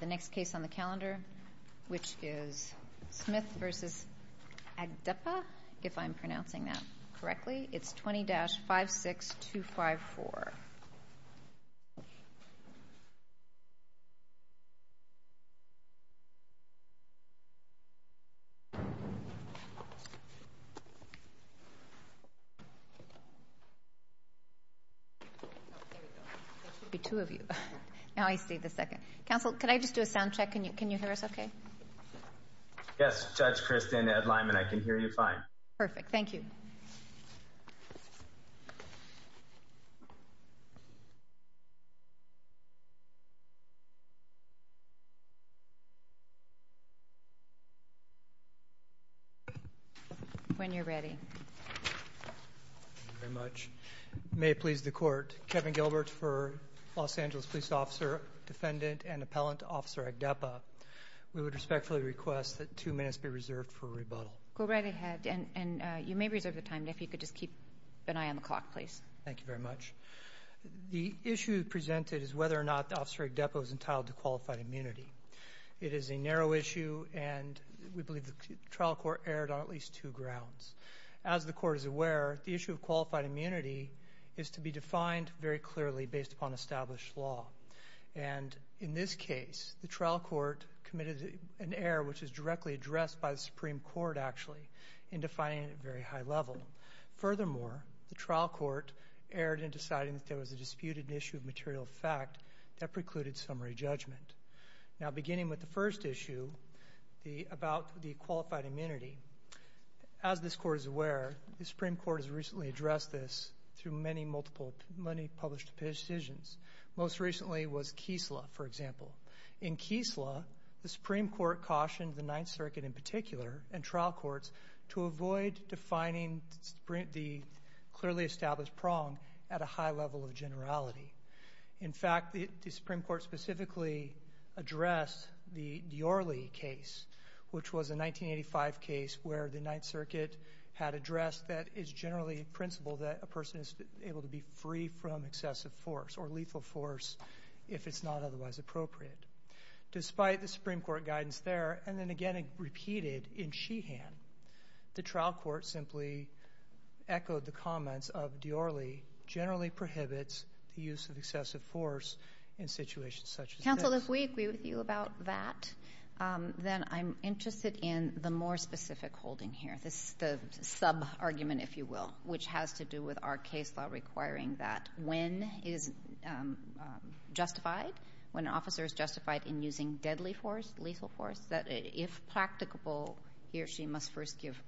The next case on the calendar, which is Smith v. Agdeppa. If I'm pronouncing that correctly, it's 20-56254. There should be two of you. Now I see the second. Counsel, can I just do a sound check? Can you hear us okay? Yes, Judge Kristin Edline, and I can hear you fine. Perfect. Thank you. When you're ready. Thank you very much. May it please the Court, Kevin Gilbert for Los Angeles Police Officer, Defendant, and Appellant Officer Agdeppa, we would respectfully request that two minutes be reserved for rebuttal. Go right ahead, and you may reserve the time if you could just keep an eye on the clock, please. Thank you very much. The issue presented is whether or not Officer Agdeppa was entitled to qualified immunity. It is a narrow issue, and we believe the trial court erred on at least two grounds. As the Court is aware, the issue of qualified immunity is to be defined very clearly based upon established law. In this case, the trial court committed an error which is directly addressed by the Supreme Court, actually, in defining it at a very high level. Furthermore, the trial court erred in deciding that there was a disputed issue of material fact that precluded summary judgment. Now, beginning with the first issue about the qualified immunity, as this Court is aware, the Supreme Court has recently addressed this through many published decisions. Most recently was Keesla, for example. In Keesla, the Supreme Court cautioned the Ninth Circuit in particular and trial courts to avoid defining the clearly established prong at a high level of generality. In fact, the Supreme Court specifically addressed the Diorle case, which was a 1985 case where the Ninth Circuit had addressed that it's generally principled that a person is able to be free from excessive force or lethal force if it's not otherwise appropriate. Despite the Supreme Court guidance there, and then again repeated in Sheehan, the trial court simply echoed the comments of Diorle generally prohibits the use of excessive force in situations such as this. So if we agree with you about that, then I'm interested in the more specific holding here, the sub-argument, if you will, which has to do with our case law requiring that when is justified, when an officer is justified in using deadly force, lethal force, that if practicable, he or she must first give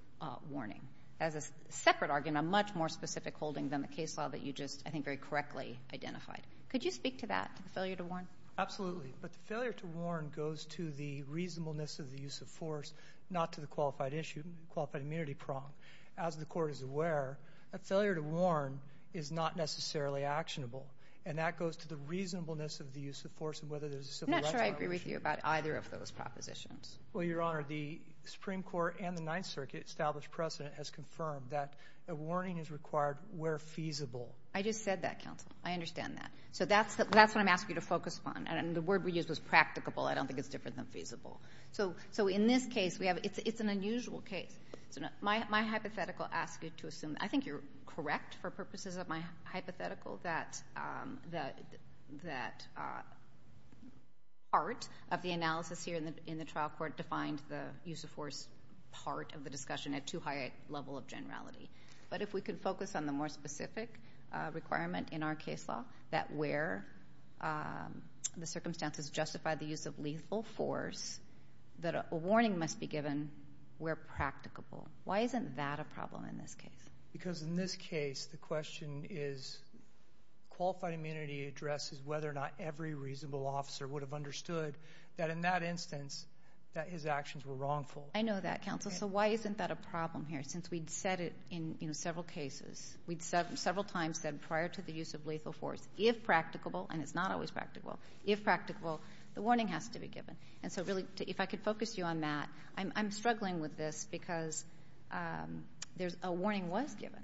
warning. As a separate argument, a much more specific holding than the case law that you just, I think, very correctly identified. Could you speak to that, to the failure to warn? Absolutely. But the failure to warn goes to the reasonableness of the use of force, not to the qualified issue, qualified immunity prong. As the Court is aware, a failure to warn is not necessarily actionable, and that goes to the reasonableness of the use of force and whether there's a civil rights violation. I'm not sure I agree with you about either of those propositions. Well, Your Honor, the Supreme Court and the Ninth Circuit established precedent has confirmed that a warning is required where feasible. I just said that, counsel. I understand that. So that's what I'm asking you to focus upon, and the word we used was practicable. I don't think it's different than feasible. So in this case, it's an unusual case. My hypothetical asks you to assume, I think you're correct for purposes of my hypothetical, that part of the analysis here in the trial court defined the use of force part of the discussion at too high a level of generality. But if we could focus on the more specific requirement in our case law, that where the circumstances justify the use of lethal force, that a warning must be given where practicable. Why isn't that a problem in this case? Because in this case, the question is qualified immunity addresses whether or not every reasonable officer would have understood that in that instance, that his actions were wrongful. I know that, counsel. So why isn't that a problem here? Since we'd said it in several cases, we'd several times said prior to the use of lethal force, if practicable, and it's not always practicable, if practicable, the warning has to be given. And so really, if I could focus you on that, I'm struggling with this because a warning was given,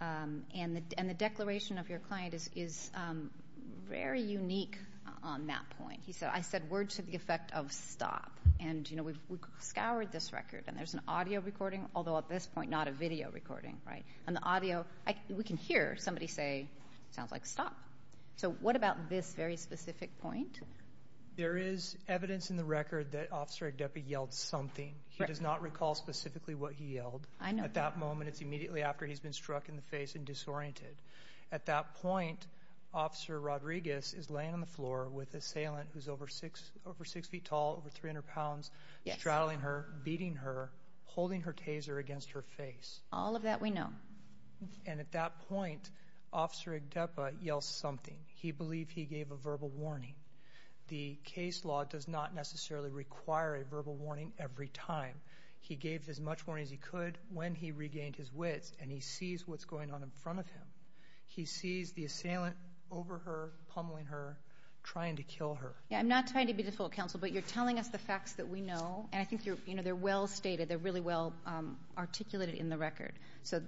and the declaration of your client is very unique on that point. I said words to the effect of stop, and we've scoured this record, and there's an audio recording, although at this point not a video recording, right? And the audio, we can hear somebody say, sounds like stop. So what about this very specific point? There is evidence in the record that Officer Agdefi yelled something. He does not recall specifically what he yelled. I know that. At that moment, it's immediately after he's been struck in the face and disoriented. At that point, Officer Rodriguez is laying on the floor with the assailant who's over 6 feet tall, over 300 pounds, straddling her, beating her, holding her taser against her face. All of that we know. And at that point, Officer Agdefi yells something. He believed he gave a verbal warning. The case law does not necessarily require a verbal warning every time. He gave as much warning as he could when he regained his wits, and he sees what's going on in front of him. He sees the assailant over her, pummeling her, trying to kill her. I'm not trying to be difficult, Counsel, but you're telling us the facts that we know, and I think they're well stated, they're really well articulated in the record. So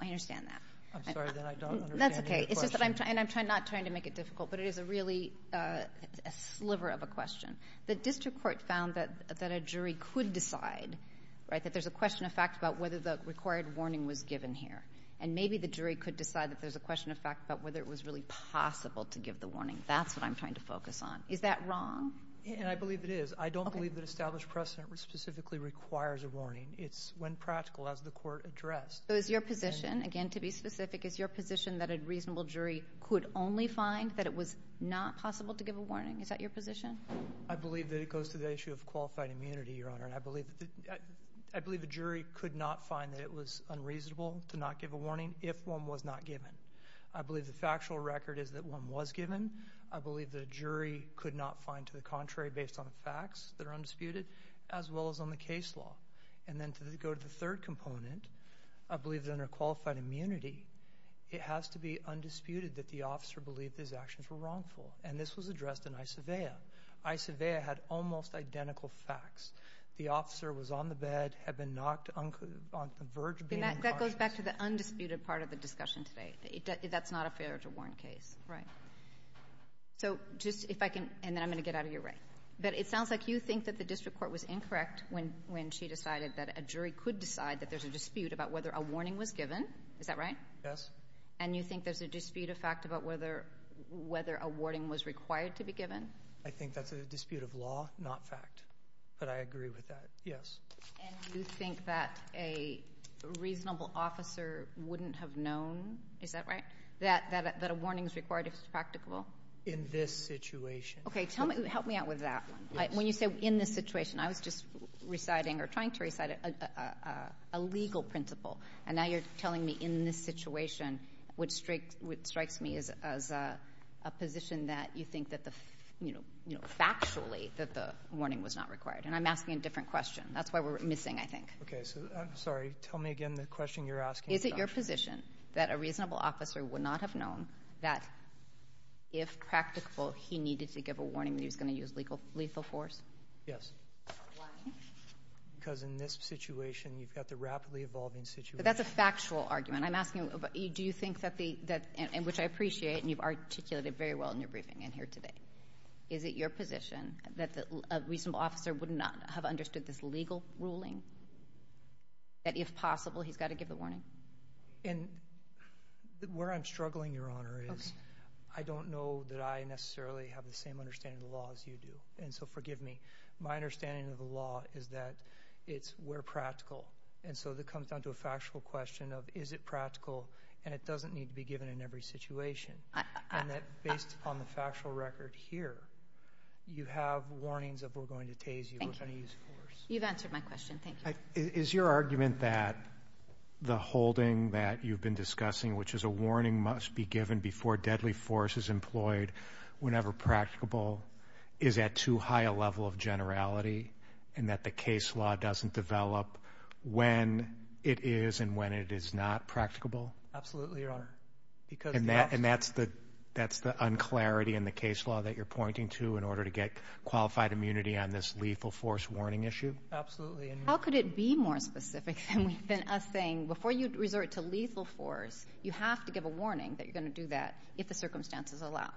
I understand that. I'm sorry, then I don't understand your question. That's okay. It's just that I'm not trying to make it difficult, but it is a really sliver of a question. The district court found that a jury could decide, right, that there's a question of fact about whether the required warning was given here, and maybe the jury could decide that there's a question of fact about whether it was really possible to give the warning. That's what I'm trying to focus on. Is that wrong? I believe it is. I don't believe that established precedent specifically requires a warning. It's when practical as the court addressed. So is your position, again, to be specific, is your position that a reasonable jury could only find that it was not possible to give a warning? Is that your position? I believe that it goes to the issue of qualified immunity, Your Honor. I believe a jury could not find that it was unreasonable to not give a warning if one was not given. I believe the factual record is that one was given. I believe the jury could not find to the contrary based on the facts that are undisputed, as well as on the case law. And then to go to the third component, I believe that under qualified immunity, it has to be undisputed that the officer believed his actions were wrongful, and this was addressed in ISAVEA. ISAVEA had almost identical facts. The officer was on the bed, had been knocked on the verge of being unconscious. It goes back to the undisputed part of the discussion today. That's not a failure to warrant case. Right. So just if I can, and then I'm going to get out of your way. But it sounds like you think that the district court was incorrect when she decided that a jury could decide that there's a dispute about whether a warning was given. Is that right? Yes. And you think there's a dispute of fact about whether a warning was required to be given? I think that's a dispute of law, not fact. But I agree with that, yes. And you think that a reasonable officer wouldn't have known, is that right, that a warning is required if it's practicable? In this situation. Okay. Help me out with that one. When you say in this situation, I was just reciting or trying to recite a legal principle, and now you're telling me in this situation, which strikes me as a position that you think that the, you know, factually that the warning was not required, and I'm asking a different question. That's why we're missing, I think. Okay. So, I'm sorry. Tell me again the question you're asking. Is it your position that a reasonable officer would not have known that if practicable, he needed to give a warning that he was going to use lethal force? Yes. Why? Because in this situation, you've got the rapidly evolving situation. But that's a factual argument. I'm asking, do you think that the, which I appreciate, and you've articulated very well in your briefing and here today. Is it your position that a reasonable officer would not have understood this legal ruling? That if possible, he's got to give a warning? And where I'm struggling, Your Honor, is I don't know that I necessarily have the same understanding of the law as you do. And so, forgive me. My understanding of the law is that it's we're practical. And so, that comes down to a factual question of is it practical, and it doesn't need to be given in every situation. And that based on the factual record here, you have warnings of we're going to tase you with any use of force. You've answered my question. Thank you. Is your argument that the holding that you've been discussing, which is a warning must be given before deadly force is employed whenever practicable, is at too high a level of generality and that the case law doesn't develop when it is and when it is not practicable? Absolutely, Your Honor. And that's the un-clarity in the case law that you're pointing to in order to get qualified immunity on this lethal force warning issue? Absolutely. How could it be more specific than us saying before you resort to lethal force, you have to give a warning that you're going to do that if the circumstances allow?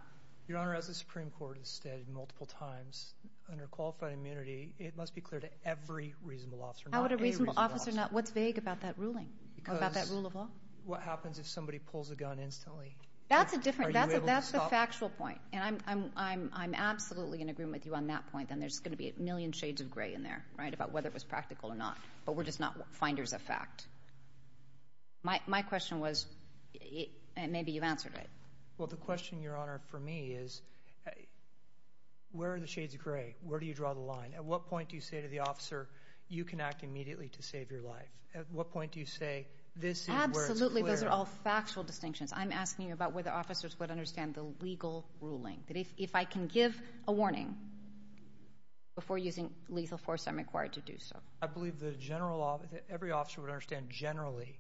Your Honor, as the Supreme Court has stated multiple times, under qualified immunity, it must be clear to every reasonable officer, not any reasonable officer. How would a reasonable officer not? What's vague about that ruling, about that rule of law? What happens if somebody pulls a gun instantly? That's the factual point, and I'm absolutely in agreement with you on that point, and there's going to be a million shades of gray in there about whether it was practical or not, but we're just not finders of fact. My question was, and maybe you've answered it. Well, the question, Your Honor, for me is where are the shades of gray? Where do you draw the line? At what point do you say to the officer, you can act immediately to save your life? At what point do you say this is where it's clear? Absolutely. Those are all factual distinctions. I'm asking you about whether officers would understand the legal ruling, that if I can give a warning before using lethal force, I'm required to do so. I believe that every officer would understand generally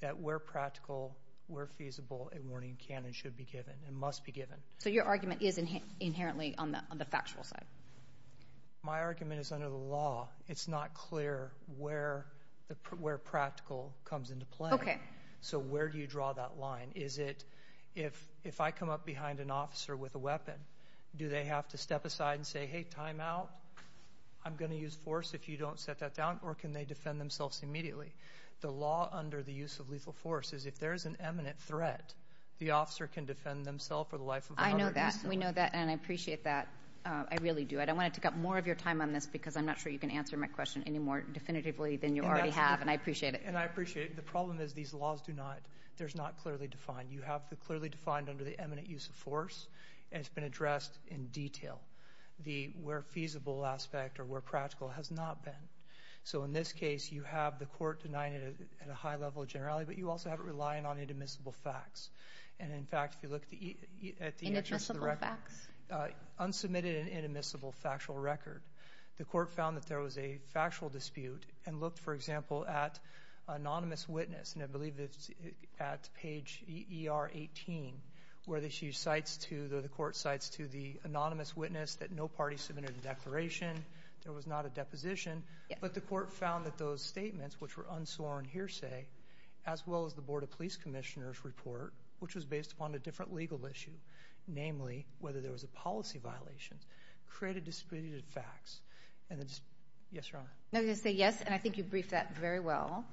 that where practical, where feasible, a warning can and should be given and must be given. So your argument is inherently on the factual side? My argument is under the law. It's not clear where practical comes into play. Okay. So where do you draw that line? Is it if I come up behind an officer with a weapon, do they have to step aside and say, hey, time out, I'm going to use force if you don't set that down, or can they defend themselves immediately? The law under the use of lethal force is if there is an eminent threat, the officer can defend themselves for the life of 100 years. I know that. We know that, and I appreciate that. I really do. I don't want to take up more of your time on this because I'm not sure you can answer my question any more definitively than you already have, and I appreciate it. And I appreciate it. The problem is these laws do not, they're not clearly defined. You have the clearly defined under the eminent use of force, and it's been addressed in detail, the where feasible aspect or where practical has not been. So in this case, you have the court denying it at a high level of generality, but you also have it relying on inadmissible facts. And, in fact, if you look at the answers to the record. Inadmissible facts? Unsubmitted and inadmissible factual record. The court found that there was a factual dispute and looked, for example, at anonymous witness, and I believe it's at page ER 18 where the court cites to the anonymous witness that no party submitted a declaration, there was not a deposition, but the court found that those statements, which were unsworn hearsay, as well as the Board of Police Commissioners' report, which was based upon a different legal issue, namely whether there was a policy violation, created discredited facts. And then just yes or no? I'm going to say yes, and I think you briefed that very well,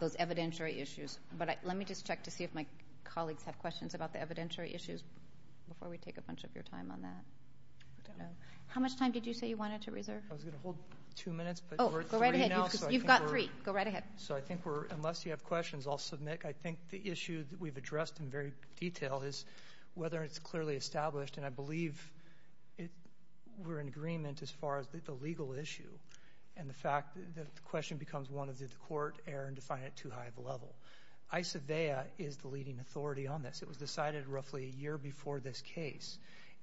those evidentiary issues. But let me just check to see if my colleagues have questions about the evidentiary issues before we take a bunch of your time on that. How much time did you say you wanted to reserve? I was going to hold two minutes. Oh, go right ahead. You've got three. Go right ahead. So I think we're, unless you have questions, I'll submit. I think the issue that we've addressed in very detail is whether it's clearly established, and I believe we're in agreement as far as the legal issue and the fact that the question becomes one of did the court err and define it too high of a level. ISAVEA is the leading authority on this. It was decided roughly a year before this case.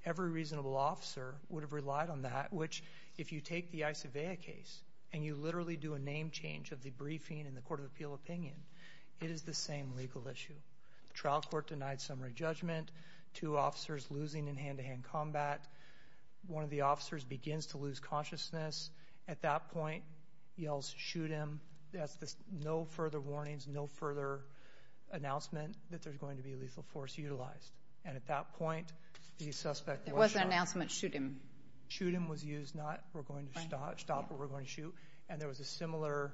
Every reasonable officer would have relied on that, which if you take the ISAVEA case and you literally do a name change of the briefing and the court of appeal opinion, it is the same legal issue. The trial court denied summary judgment. Two officers losing in hand-to-hand combat. One of the officers begins to lose consciousness. At that point, yells, shoot him. No further warnings, no further announcement that there's going to be a lethal force utilized. And at that point, the suspect was shot. It was an announcement, shoot him. And there was a similar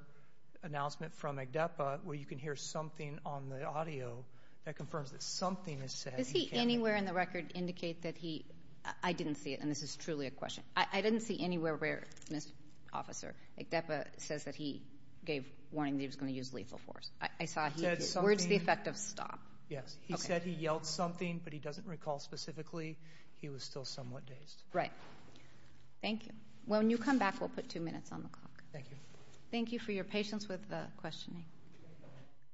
announcement from Agdepa where you can hear something on the audio that confirms that something is said. Does he anywhere in the record indicate that he didn't see it? And this is truly a question. I didn't see anywhere where, Mr. Officer, Agdepa says that he gave warning that he was going to use lethal force. Where's the effect of stop? Yes. He said he yelled something, but he doesn't recall specifically. He was still somewhat dazed. Right. Thank you. When you come back, we'll put two minutes on the clock. Thank you. Thank you for your patience with the questioning.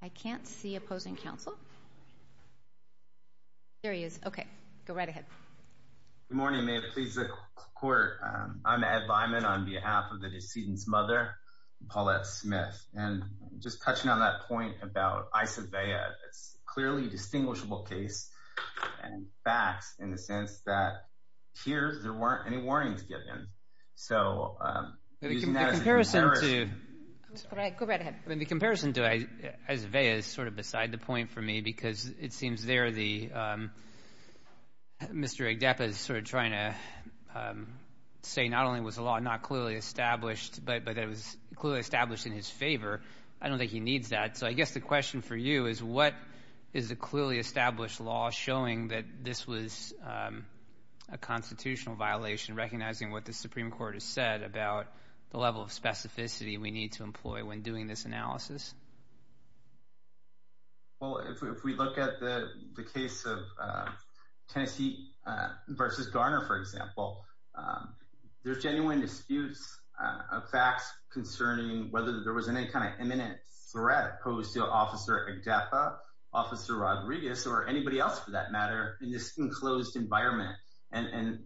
I can't see opposing counsel. There he is. Okay. Go right ahead. Good morning. May it please the court. I'm Ed Lyman on behalf of the decedent's mother, Paulette Smith. And just touching on that point about Isobea, it's clearly a distinguishable case and facts in the sense that here there weren't any warnings given. So using that as a comparison. Go right ahead. The comparison to Isobea is sort of beside the point for me because it seems there the, Mr. Agdepa is sort of trying to say not only was the law not clearly established, but that it was clearly established in his favor. I don't think he needs that. So I guess the question for you is what is the clearly established law showing that this was a constitutional violation, recognizing what the Supreme Court has said about the level of specificity we need to employ when doing this analysis? Well, if we look at the case of Tennessee versus Garner, for example, there's genuine disputes of facts concerning whether there was any kind of imminent threat posed to Officer Agdepa, Officer Rodriguez, or anybody else for that matter in this enclosed environment. And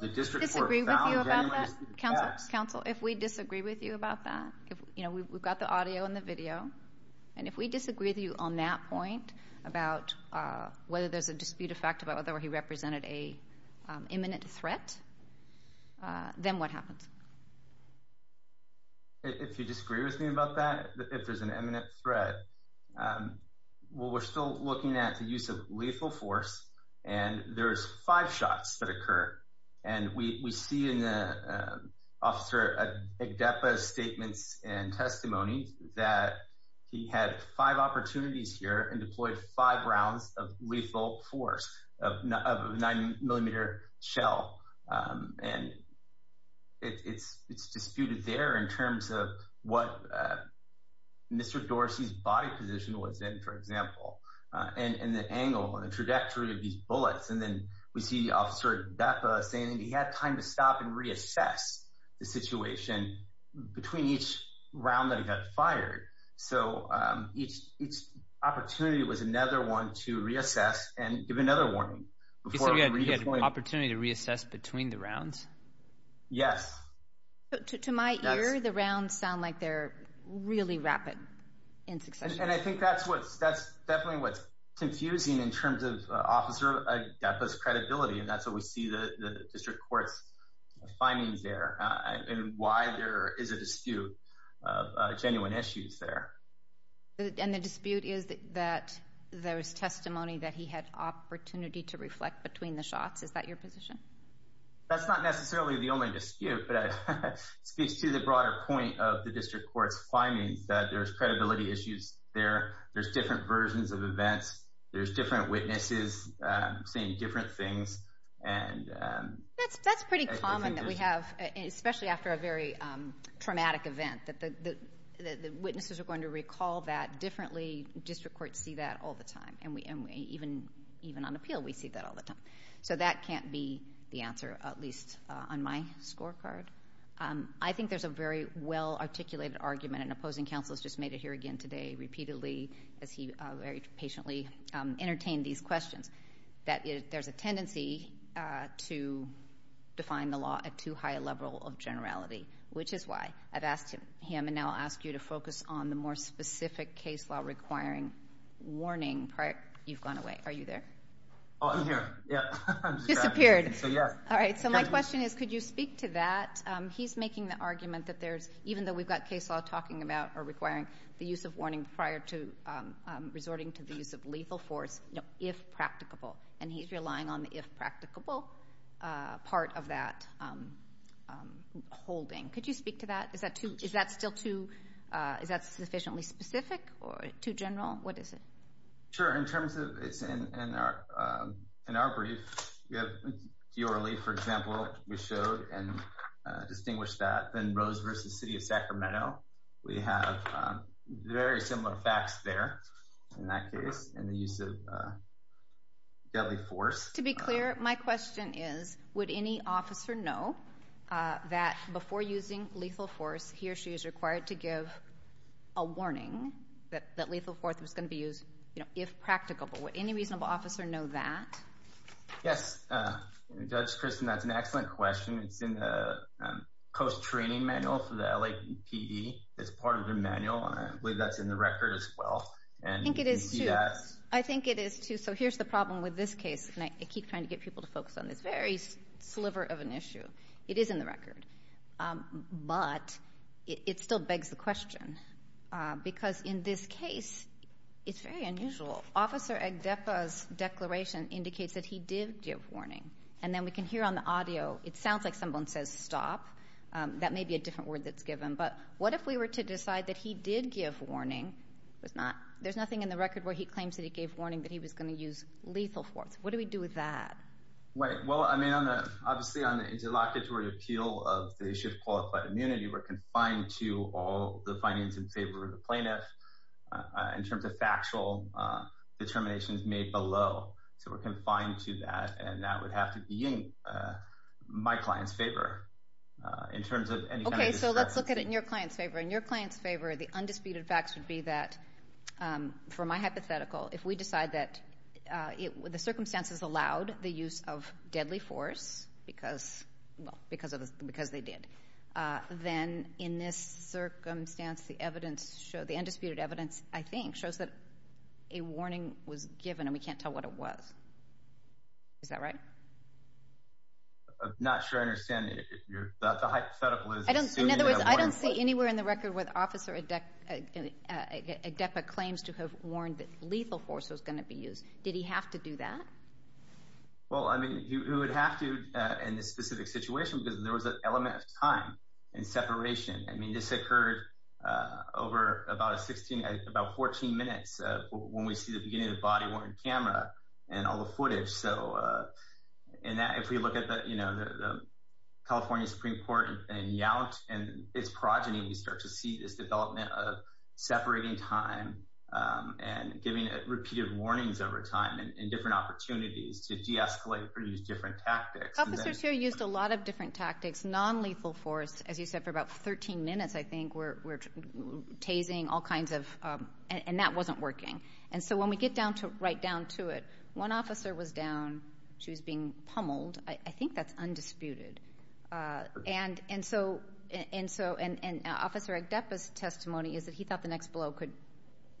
the district court found genuine disputes of facts. I disagree with you about that, counsel. If we disagree with you about that, we've got the audio and the video. And if we disagree with you on that point about whether there's a dispute of fact about whether he represented an imminent threat, then what happens? If you disagree with me about that, if there's an imminent threat, well, we're still looking at the use of lethal force, and there's five shots that occur. And we see in Officer Agdepa's statements and testimony that he had five opportunities here and deployed five rounds of lethal force of a nine-millimeter shell. And it's disputed there in terms of what Mr. Dorsey's body position was in, for example, and the angle and the trajectory of these bullets. And then we see Officer Agdepa saying that he had time to stop and reassess the situation between each round that he got fired. So each opportunity was another one to reassess and give another warning. You said he had an opportunity to reassess between the rounds? Yes. To my ear, the rounds sound like they're really rapid in succession. And I think that's definitely what's confusing in terms of Officer Agdepa's credibility, and that's what we see in the district court's findings there and why there is a dispute of genuine issues there. And the dispute is that there was testimony that he had opportunity to reflect between the shots. Is that your position? That's not necessarily the only dispute, but it speaks to the broader point of the district court's findings that there's credibility issues there. There's different versions of events. There's different witnesses saying different things. That's pretty common that we have, especially after a very traumatic event, that the witnesses are going to recall that differently. District courts see that all the time. And even on appeal we see that all the time. So that can't be the answer, at least on my scorecard. I think there's a very well-articulated argument, and an opposing counsel has just made it here again today repeatedly, as he very patiently entertained these questions, that there's a tendency to define the law at too high a level of generality, which is why I've asked him, and now I'll ask you to focus on the more specific case law requiring warning prior. You've gone away. Are you there? I'm here. Disappeared. All right. So my question is, could you speak to that? He's making the argument that there's, even though we've got case law talking about or requiring the use of warning prior to resorting to the use of lethal force, if practicable, and he's relying on the if practicable part of that holding. Could you speak to that? Is that still too sufficiently specific or too general? What is it? Sure. In terms of it's in our brief, we have D'Orly, for example, we showed and distinguished that. Then Rose v. City of Sacramento, we have very similar facts there in that case in the use of deadly force. To be clear, my question is, would any officer know that before using lethal force, he or she is required to give a warning that lethal force was going to be used if practicable. Would any reasonable officer know that? Yes. Judge Kristen, that's an excellent question. It's in the Coast Training Manual for the LAPD. It's part of the manual, and I believe that's in the record as well. I think it is, too. So here's the problem with this case, and I keep trying to get people to focus on this. Very sliver of an issue. It is in the record. But it still begs the question because in this case, it's very unusual. Officer Agdepa's declaration indicates that he did give warning, and then we can hear on the audio, it sounds like someone says stop. That may be a different word that's given. But what if we were to decide that he did give warning. There's nothing in the record where he claims that he gave warning that he was going to use lethal force. What do we do with that? Well, I mean, obviously on the interlocutory appeal of the issue of qualified immunity, we're confined to all the findings in favor of the plaintiff in terms of factual determinations made below. So we're confined to that, and that would have to be in my client's favor in terms of any kind of discussion. Okay, so let's look at it in your client's favor. In your client's favor, the undisputed facts would be that, for my hypothetical, if we decide that the circumstances allowed the use of deadly force because they did, then in this circumstance, the undisputed evidence, I think, shows that a warning was given, and we can't tell what it was. Is that right? I'm not sure I understand. The hypothetical is assuming that a warning was given. Did he have to do that? Well, I mean, he would have to in this specific situation because there was an element of time and separation. I mean, this occurred over about 14 minutes when we see the beginning of the body-worn camera and all the footage. So if we look at the California Supreme Court in Yount and its progeny, you start to see this development of separating time and giving repeated warnings over time and different opportunities to de-escalate or use different tactics. Officers here used a lot of different tactics. Non-lethal force, as you said, for about 13 minutes, I think, were tasing all kinds of—and that wasn't working. And so when we get right down to it, one officer was down. She was being pummeled. I think that's undisputed. And so—and Officer Agdepa's testimony is that he thought the next blow could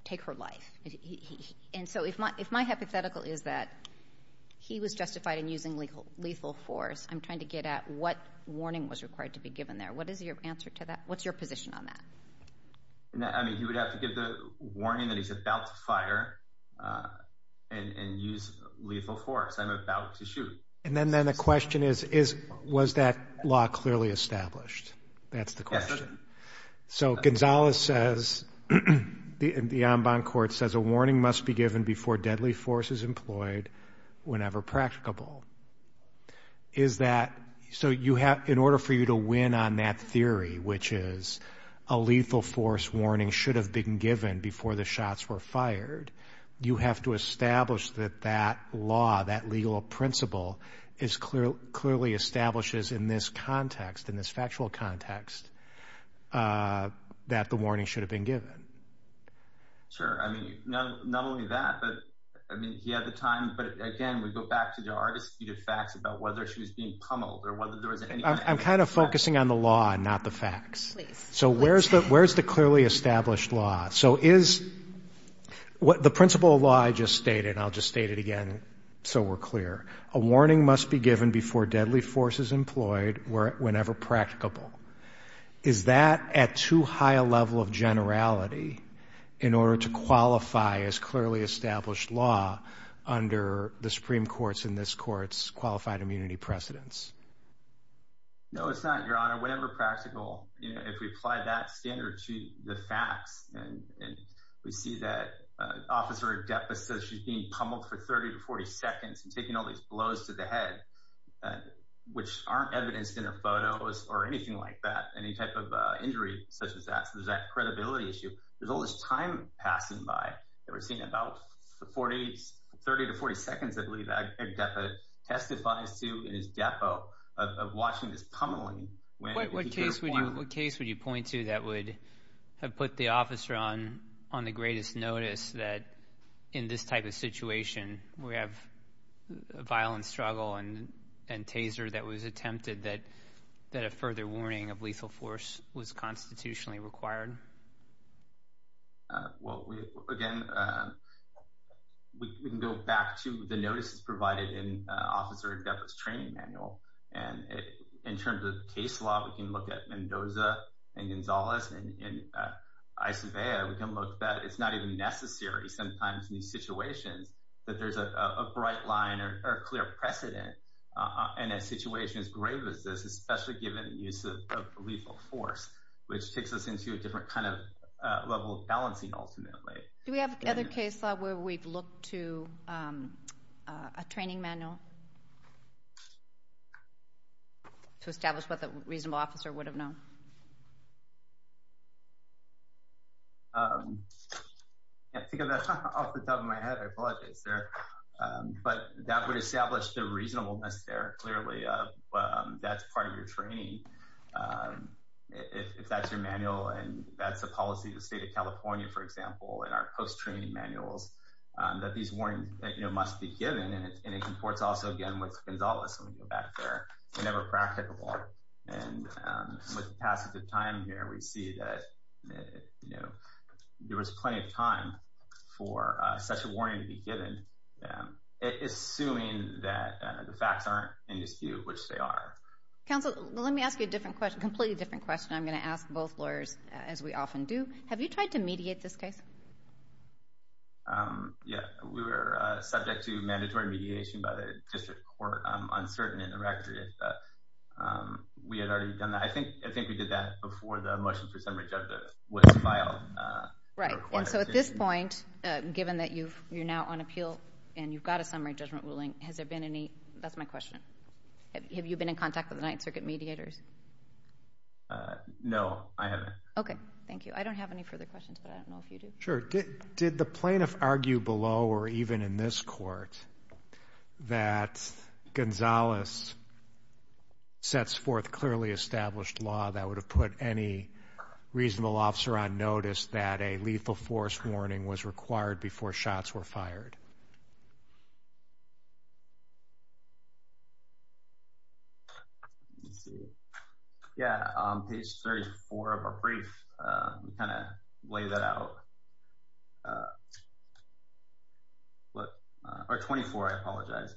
take her life. And so if my hypothetical is that he was justified in using lethal force, I'm trying to get at what warning was required to be given there. What is your answer to that? What's your position on that? I mean, he would have to give the warning that he's about to fire and use lethal force. I'm about to shoot. And then the question is, was that law clearly established? That's the question. So Gonzales says, the En Bonne Court says, a warning must be given before deadly force is employed whenever practicable. Is that—so you have—in order for you to win on that theory, which is a lethal force warning should have been given before the shots were fired, you have to establish that that law, that legal principle, clearly establishes in this context, in this factual context, that the warning should have been given. Sure. I mean, not only that, but, I mean, he had the time. But, again, we go back to the argument of facts about whether she was being pummeled or whether there was any— I'm kind of focusing on the law and not the facts. Please. So where's the clearly established law? So is—the principle of law I just stated, and I'll just state it again so we're clear, a warning must be given before deadly force is employed whenever practicable. Is that at too high a level of generality in order to qualify as clearly established law under the Supreme Court's and this Court's qualified immunity precedents? No, it's not, Your Honor. No, Your Honor, whenever practical, if we apply that standard to the facts and we see that Officer Adepa says she's being pummeled for 30 to 40 seconds and taking all these blows to the head, which aren't evidenced in her photos or anything like that, any type of injury such as that, so there's that credibility issue, there's all this time passing by that we're seeing about 30 to 40 seconds, I believe, that Adepa testifies to in his depo of watching this pummeling. What case would you point to that would have put the officer on the greatest notice that in this type of situation we have a violent struggle and taser that was attempted that a further warning of lethal force was constitutionally required? Well, again, we can go back to the notices provided in Officer Adepa's training manual. And in terms of case law, we can look at Mendoza and Gonzalez and Isobea. We can look that it's not even necessary sometimes in these situations that there's a bright line or a clear precedent in a situation as grave as this, which takes us into a different kind of level of balancing ultimately. Do we have other case law where we've looked to a training manual to establish what the reasonable officer would have known? I think of that off the top of my head, I apologize there. But that would establish the reasonableness there, clearly, that's part of your training. If that's your manual, and that's the policy of the state of California, for example, in our post-training manuals, that these warnings must be given. And it comports also, again, with Gonzalez when we go back there. They're never practicable. And with the passage of time here, we see that there was plenty of time for such a warning to be given, assuming that the facts aren't in dispute, which they are. Counsel, let me ask you a completely different question. I'm going to ask both lawyers, as we often do. Have you tried to mediate this case? Yeah, we were subject to mandatory mediation by the district court. I'm uncertain in the record if we had already done that. I think we did that before the motion for summary judgment was filed. Right, and so at this point, given that you're now on appeal and you've got a summary judgment ruling, has there been any—that's my question. Have you been in contact with the Ninth Circuit mediators? No, I haven't. Okay, thank you. I don't have any further questions, but I don't know if you do. Sure. Did the plaintiff argue below or even in this court that Gonzalez sets forth clearly established law that would have put any reasonable officer on notice that a lethal force warning was required before shots were fired? Let me see. Yeah, on page 34 of our brief, we kind of lay that out. Or 24, I apologize.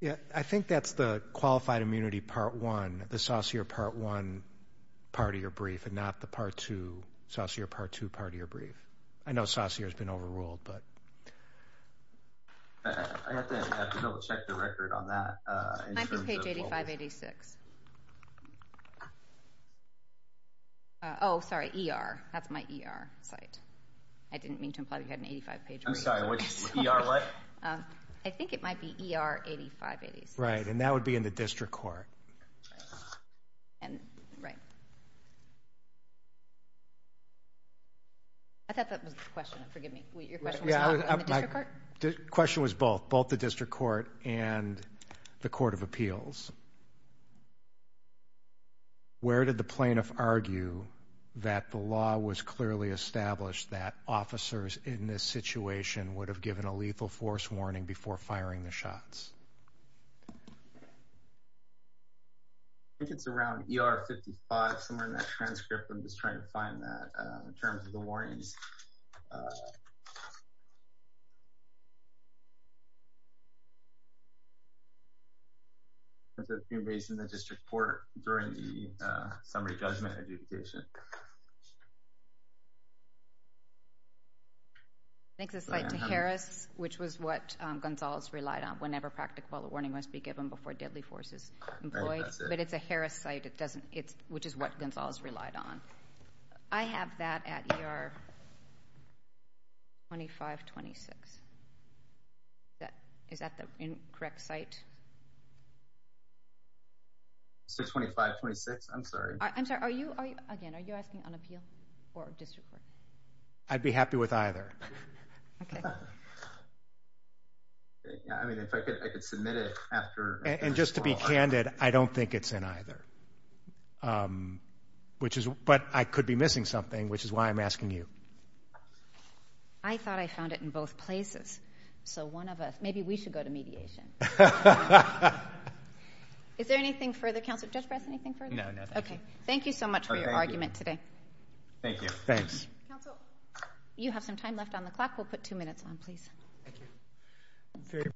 Yeah, I think that's the Qualified Immunity Part 1, the Saucere Part 1 part of your brief and not the Saucere Part 2 part of your brief. I know Saucere's been overruled, but— I have to be able to check the record on that. Might be page 8586. Oh, sorry, ER. That's my ER site. I didn't mean to imply that you had an 85-page— I'm sorry, which ER what? I think it might be ER 8586. Right, and that would be in the district court. Right. Okay. I thought that was the question. Forgive me. Your question was about the district court? The question was both, both the district court and the court of appeals. Where did the plaintiff argue that the law was clearly established that officers in this situation would have given a lethal force warning before firing the shots? I think it's around ER 55, somewhere in that transcript. I'm just trying to find that in terms of the warnings. That's been raised in the district court during the summary judgment adjudication. I think it's a site to Harris, which was what Gonzales relied on whenever practical warning must be given before deadly force is employed. But it's a Harris site, which is what Gonzales relied on. I have that at ER 2526. Is that the correct site? 62526? I'm sorry. I'm sorry, again, are you asking on appeal or district court? I'd be happy with either. Okay. I mean, if I could submit it after... And just to be candid, I don't think it's in either. But I could be missing something, which is why I'm asking you. I thought I found it in both places. So one of us, maybe we should go to mediation. Is there anything further, Counselor Judge Brass, anything further? No, nothing. Okay, thank you so much for your argument today. Thank you. Thanks. Counsel, you have some time left on the clock. We'll put two minutes on, please. Thank you.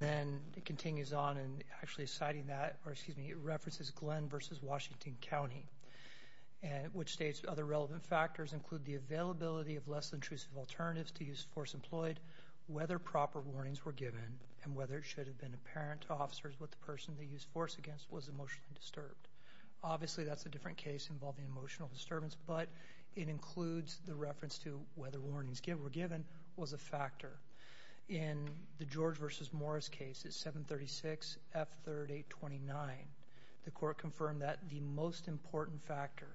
And it continues on, and actually citing that, or excuse me, it references Glenn versus Washington County, which states other relevant factors include the availability of less intrusive alternatives to use force employed, whether proper warnings were given, and whether it should have been apparent to officers what the person they used force against was emotionally disturbed. Obviously, that's a different case involving emotional disturbance, but it includes the reference to whether warnings were given was a factor. In the George versus Morris case, it's 736F3829. The court confirmed that the most important factor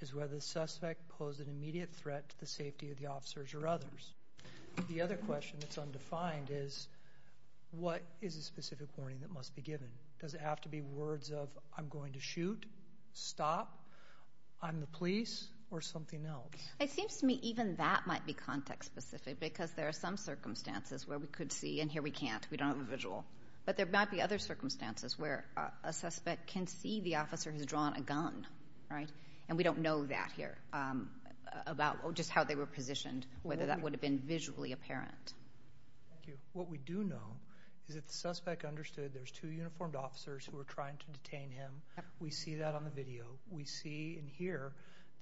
is whether the suspect posed an immediate threat to the safety of the officers or others. The other question that's undefined is, what is a specific warning that must be given? Does it have to be words of, I'm going to shoot, stop, I'm the police, or something else? It seems to me even that might be context-specific because there are some circumstances where we could see, and here we can't, we don't have a visual. But there might be other circumstances where a suspect can see the officer has drawn a gun, right? And we don't know that here about just how they were positioned, whether that would have been visually apparent. Thank you. What we do know is that the suspect understood there's two uniformed officers who were trying to detain him. We see that on the video. We see and hear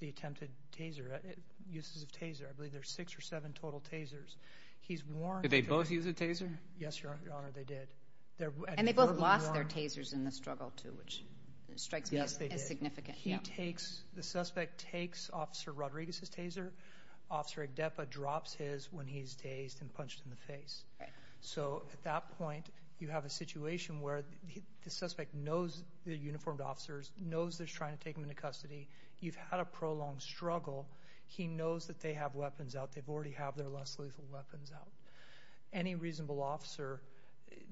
the attempted taser, uses of taser. I believe there's six or seven total tasers. Did they both use a taser? Yes, Your Honor, they did. And they both lost their tasers in the struggle too, which strikes me as significant. Yes, they did. The suspect takes Officer Rodriguez's taser. Officer Agdepa drops his when he's dazed and punched in the face. So at that point, you have a situation where the suspect knows they're uniformed officers, knows they're trying to take him into custody. You've had a prolonged struggle. He knows that they have weapons out. They already have their less lethal weapons out. Any reasonable officer,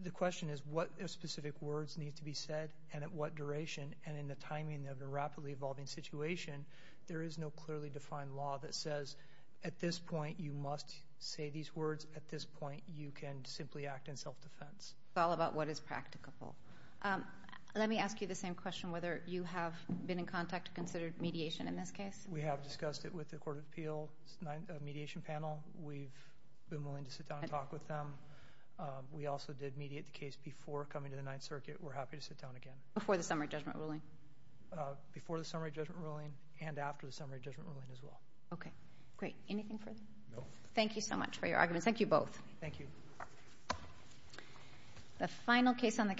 the question is, what specific words need to be said and at what duration? And in the timing of the rapidly evolving situation, there is no clearly defined law that says, at this point, you must say these words. At this point, you can simply act in self-defense. It's all about what is practicable. Let me ask you the same question, whether you have been in contact to consider mediation in this case. We have discussed it with the Court of Appeals mediation panel. We've been willing to sit down and talk with them. We also did mediate the case before coming to the Ninth Circuit. We're happy to sit down again. Before the summary judgment ruling? Before the summary judgment ruling and after the summary judgment ruling as well. Okay. Great. Anything further? No. Thank you so much for your arguments. Thank you both. Thank you.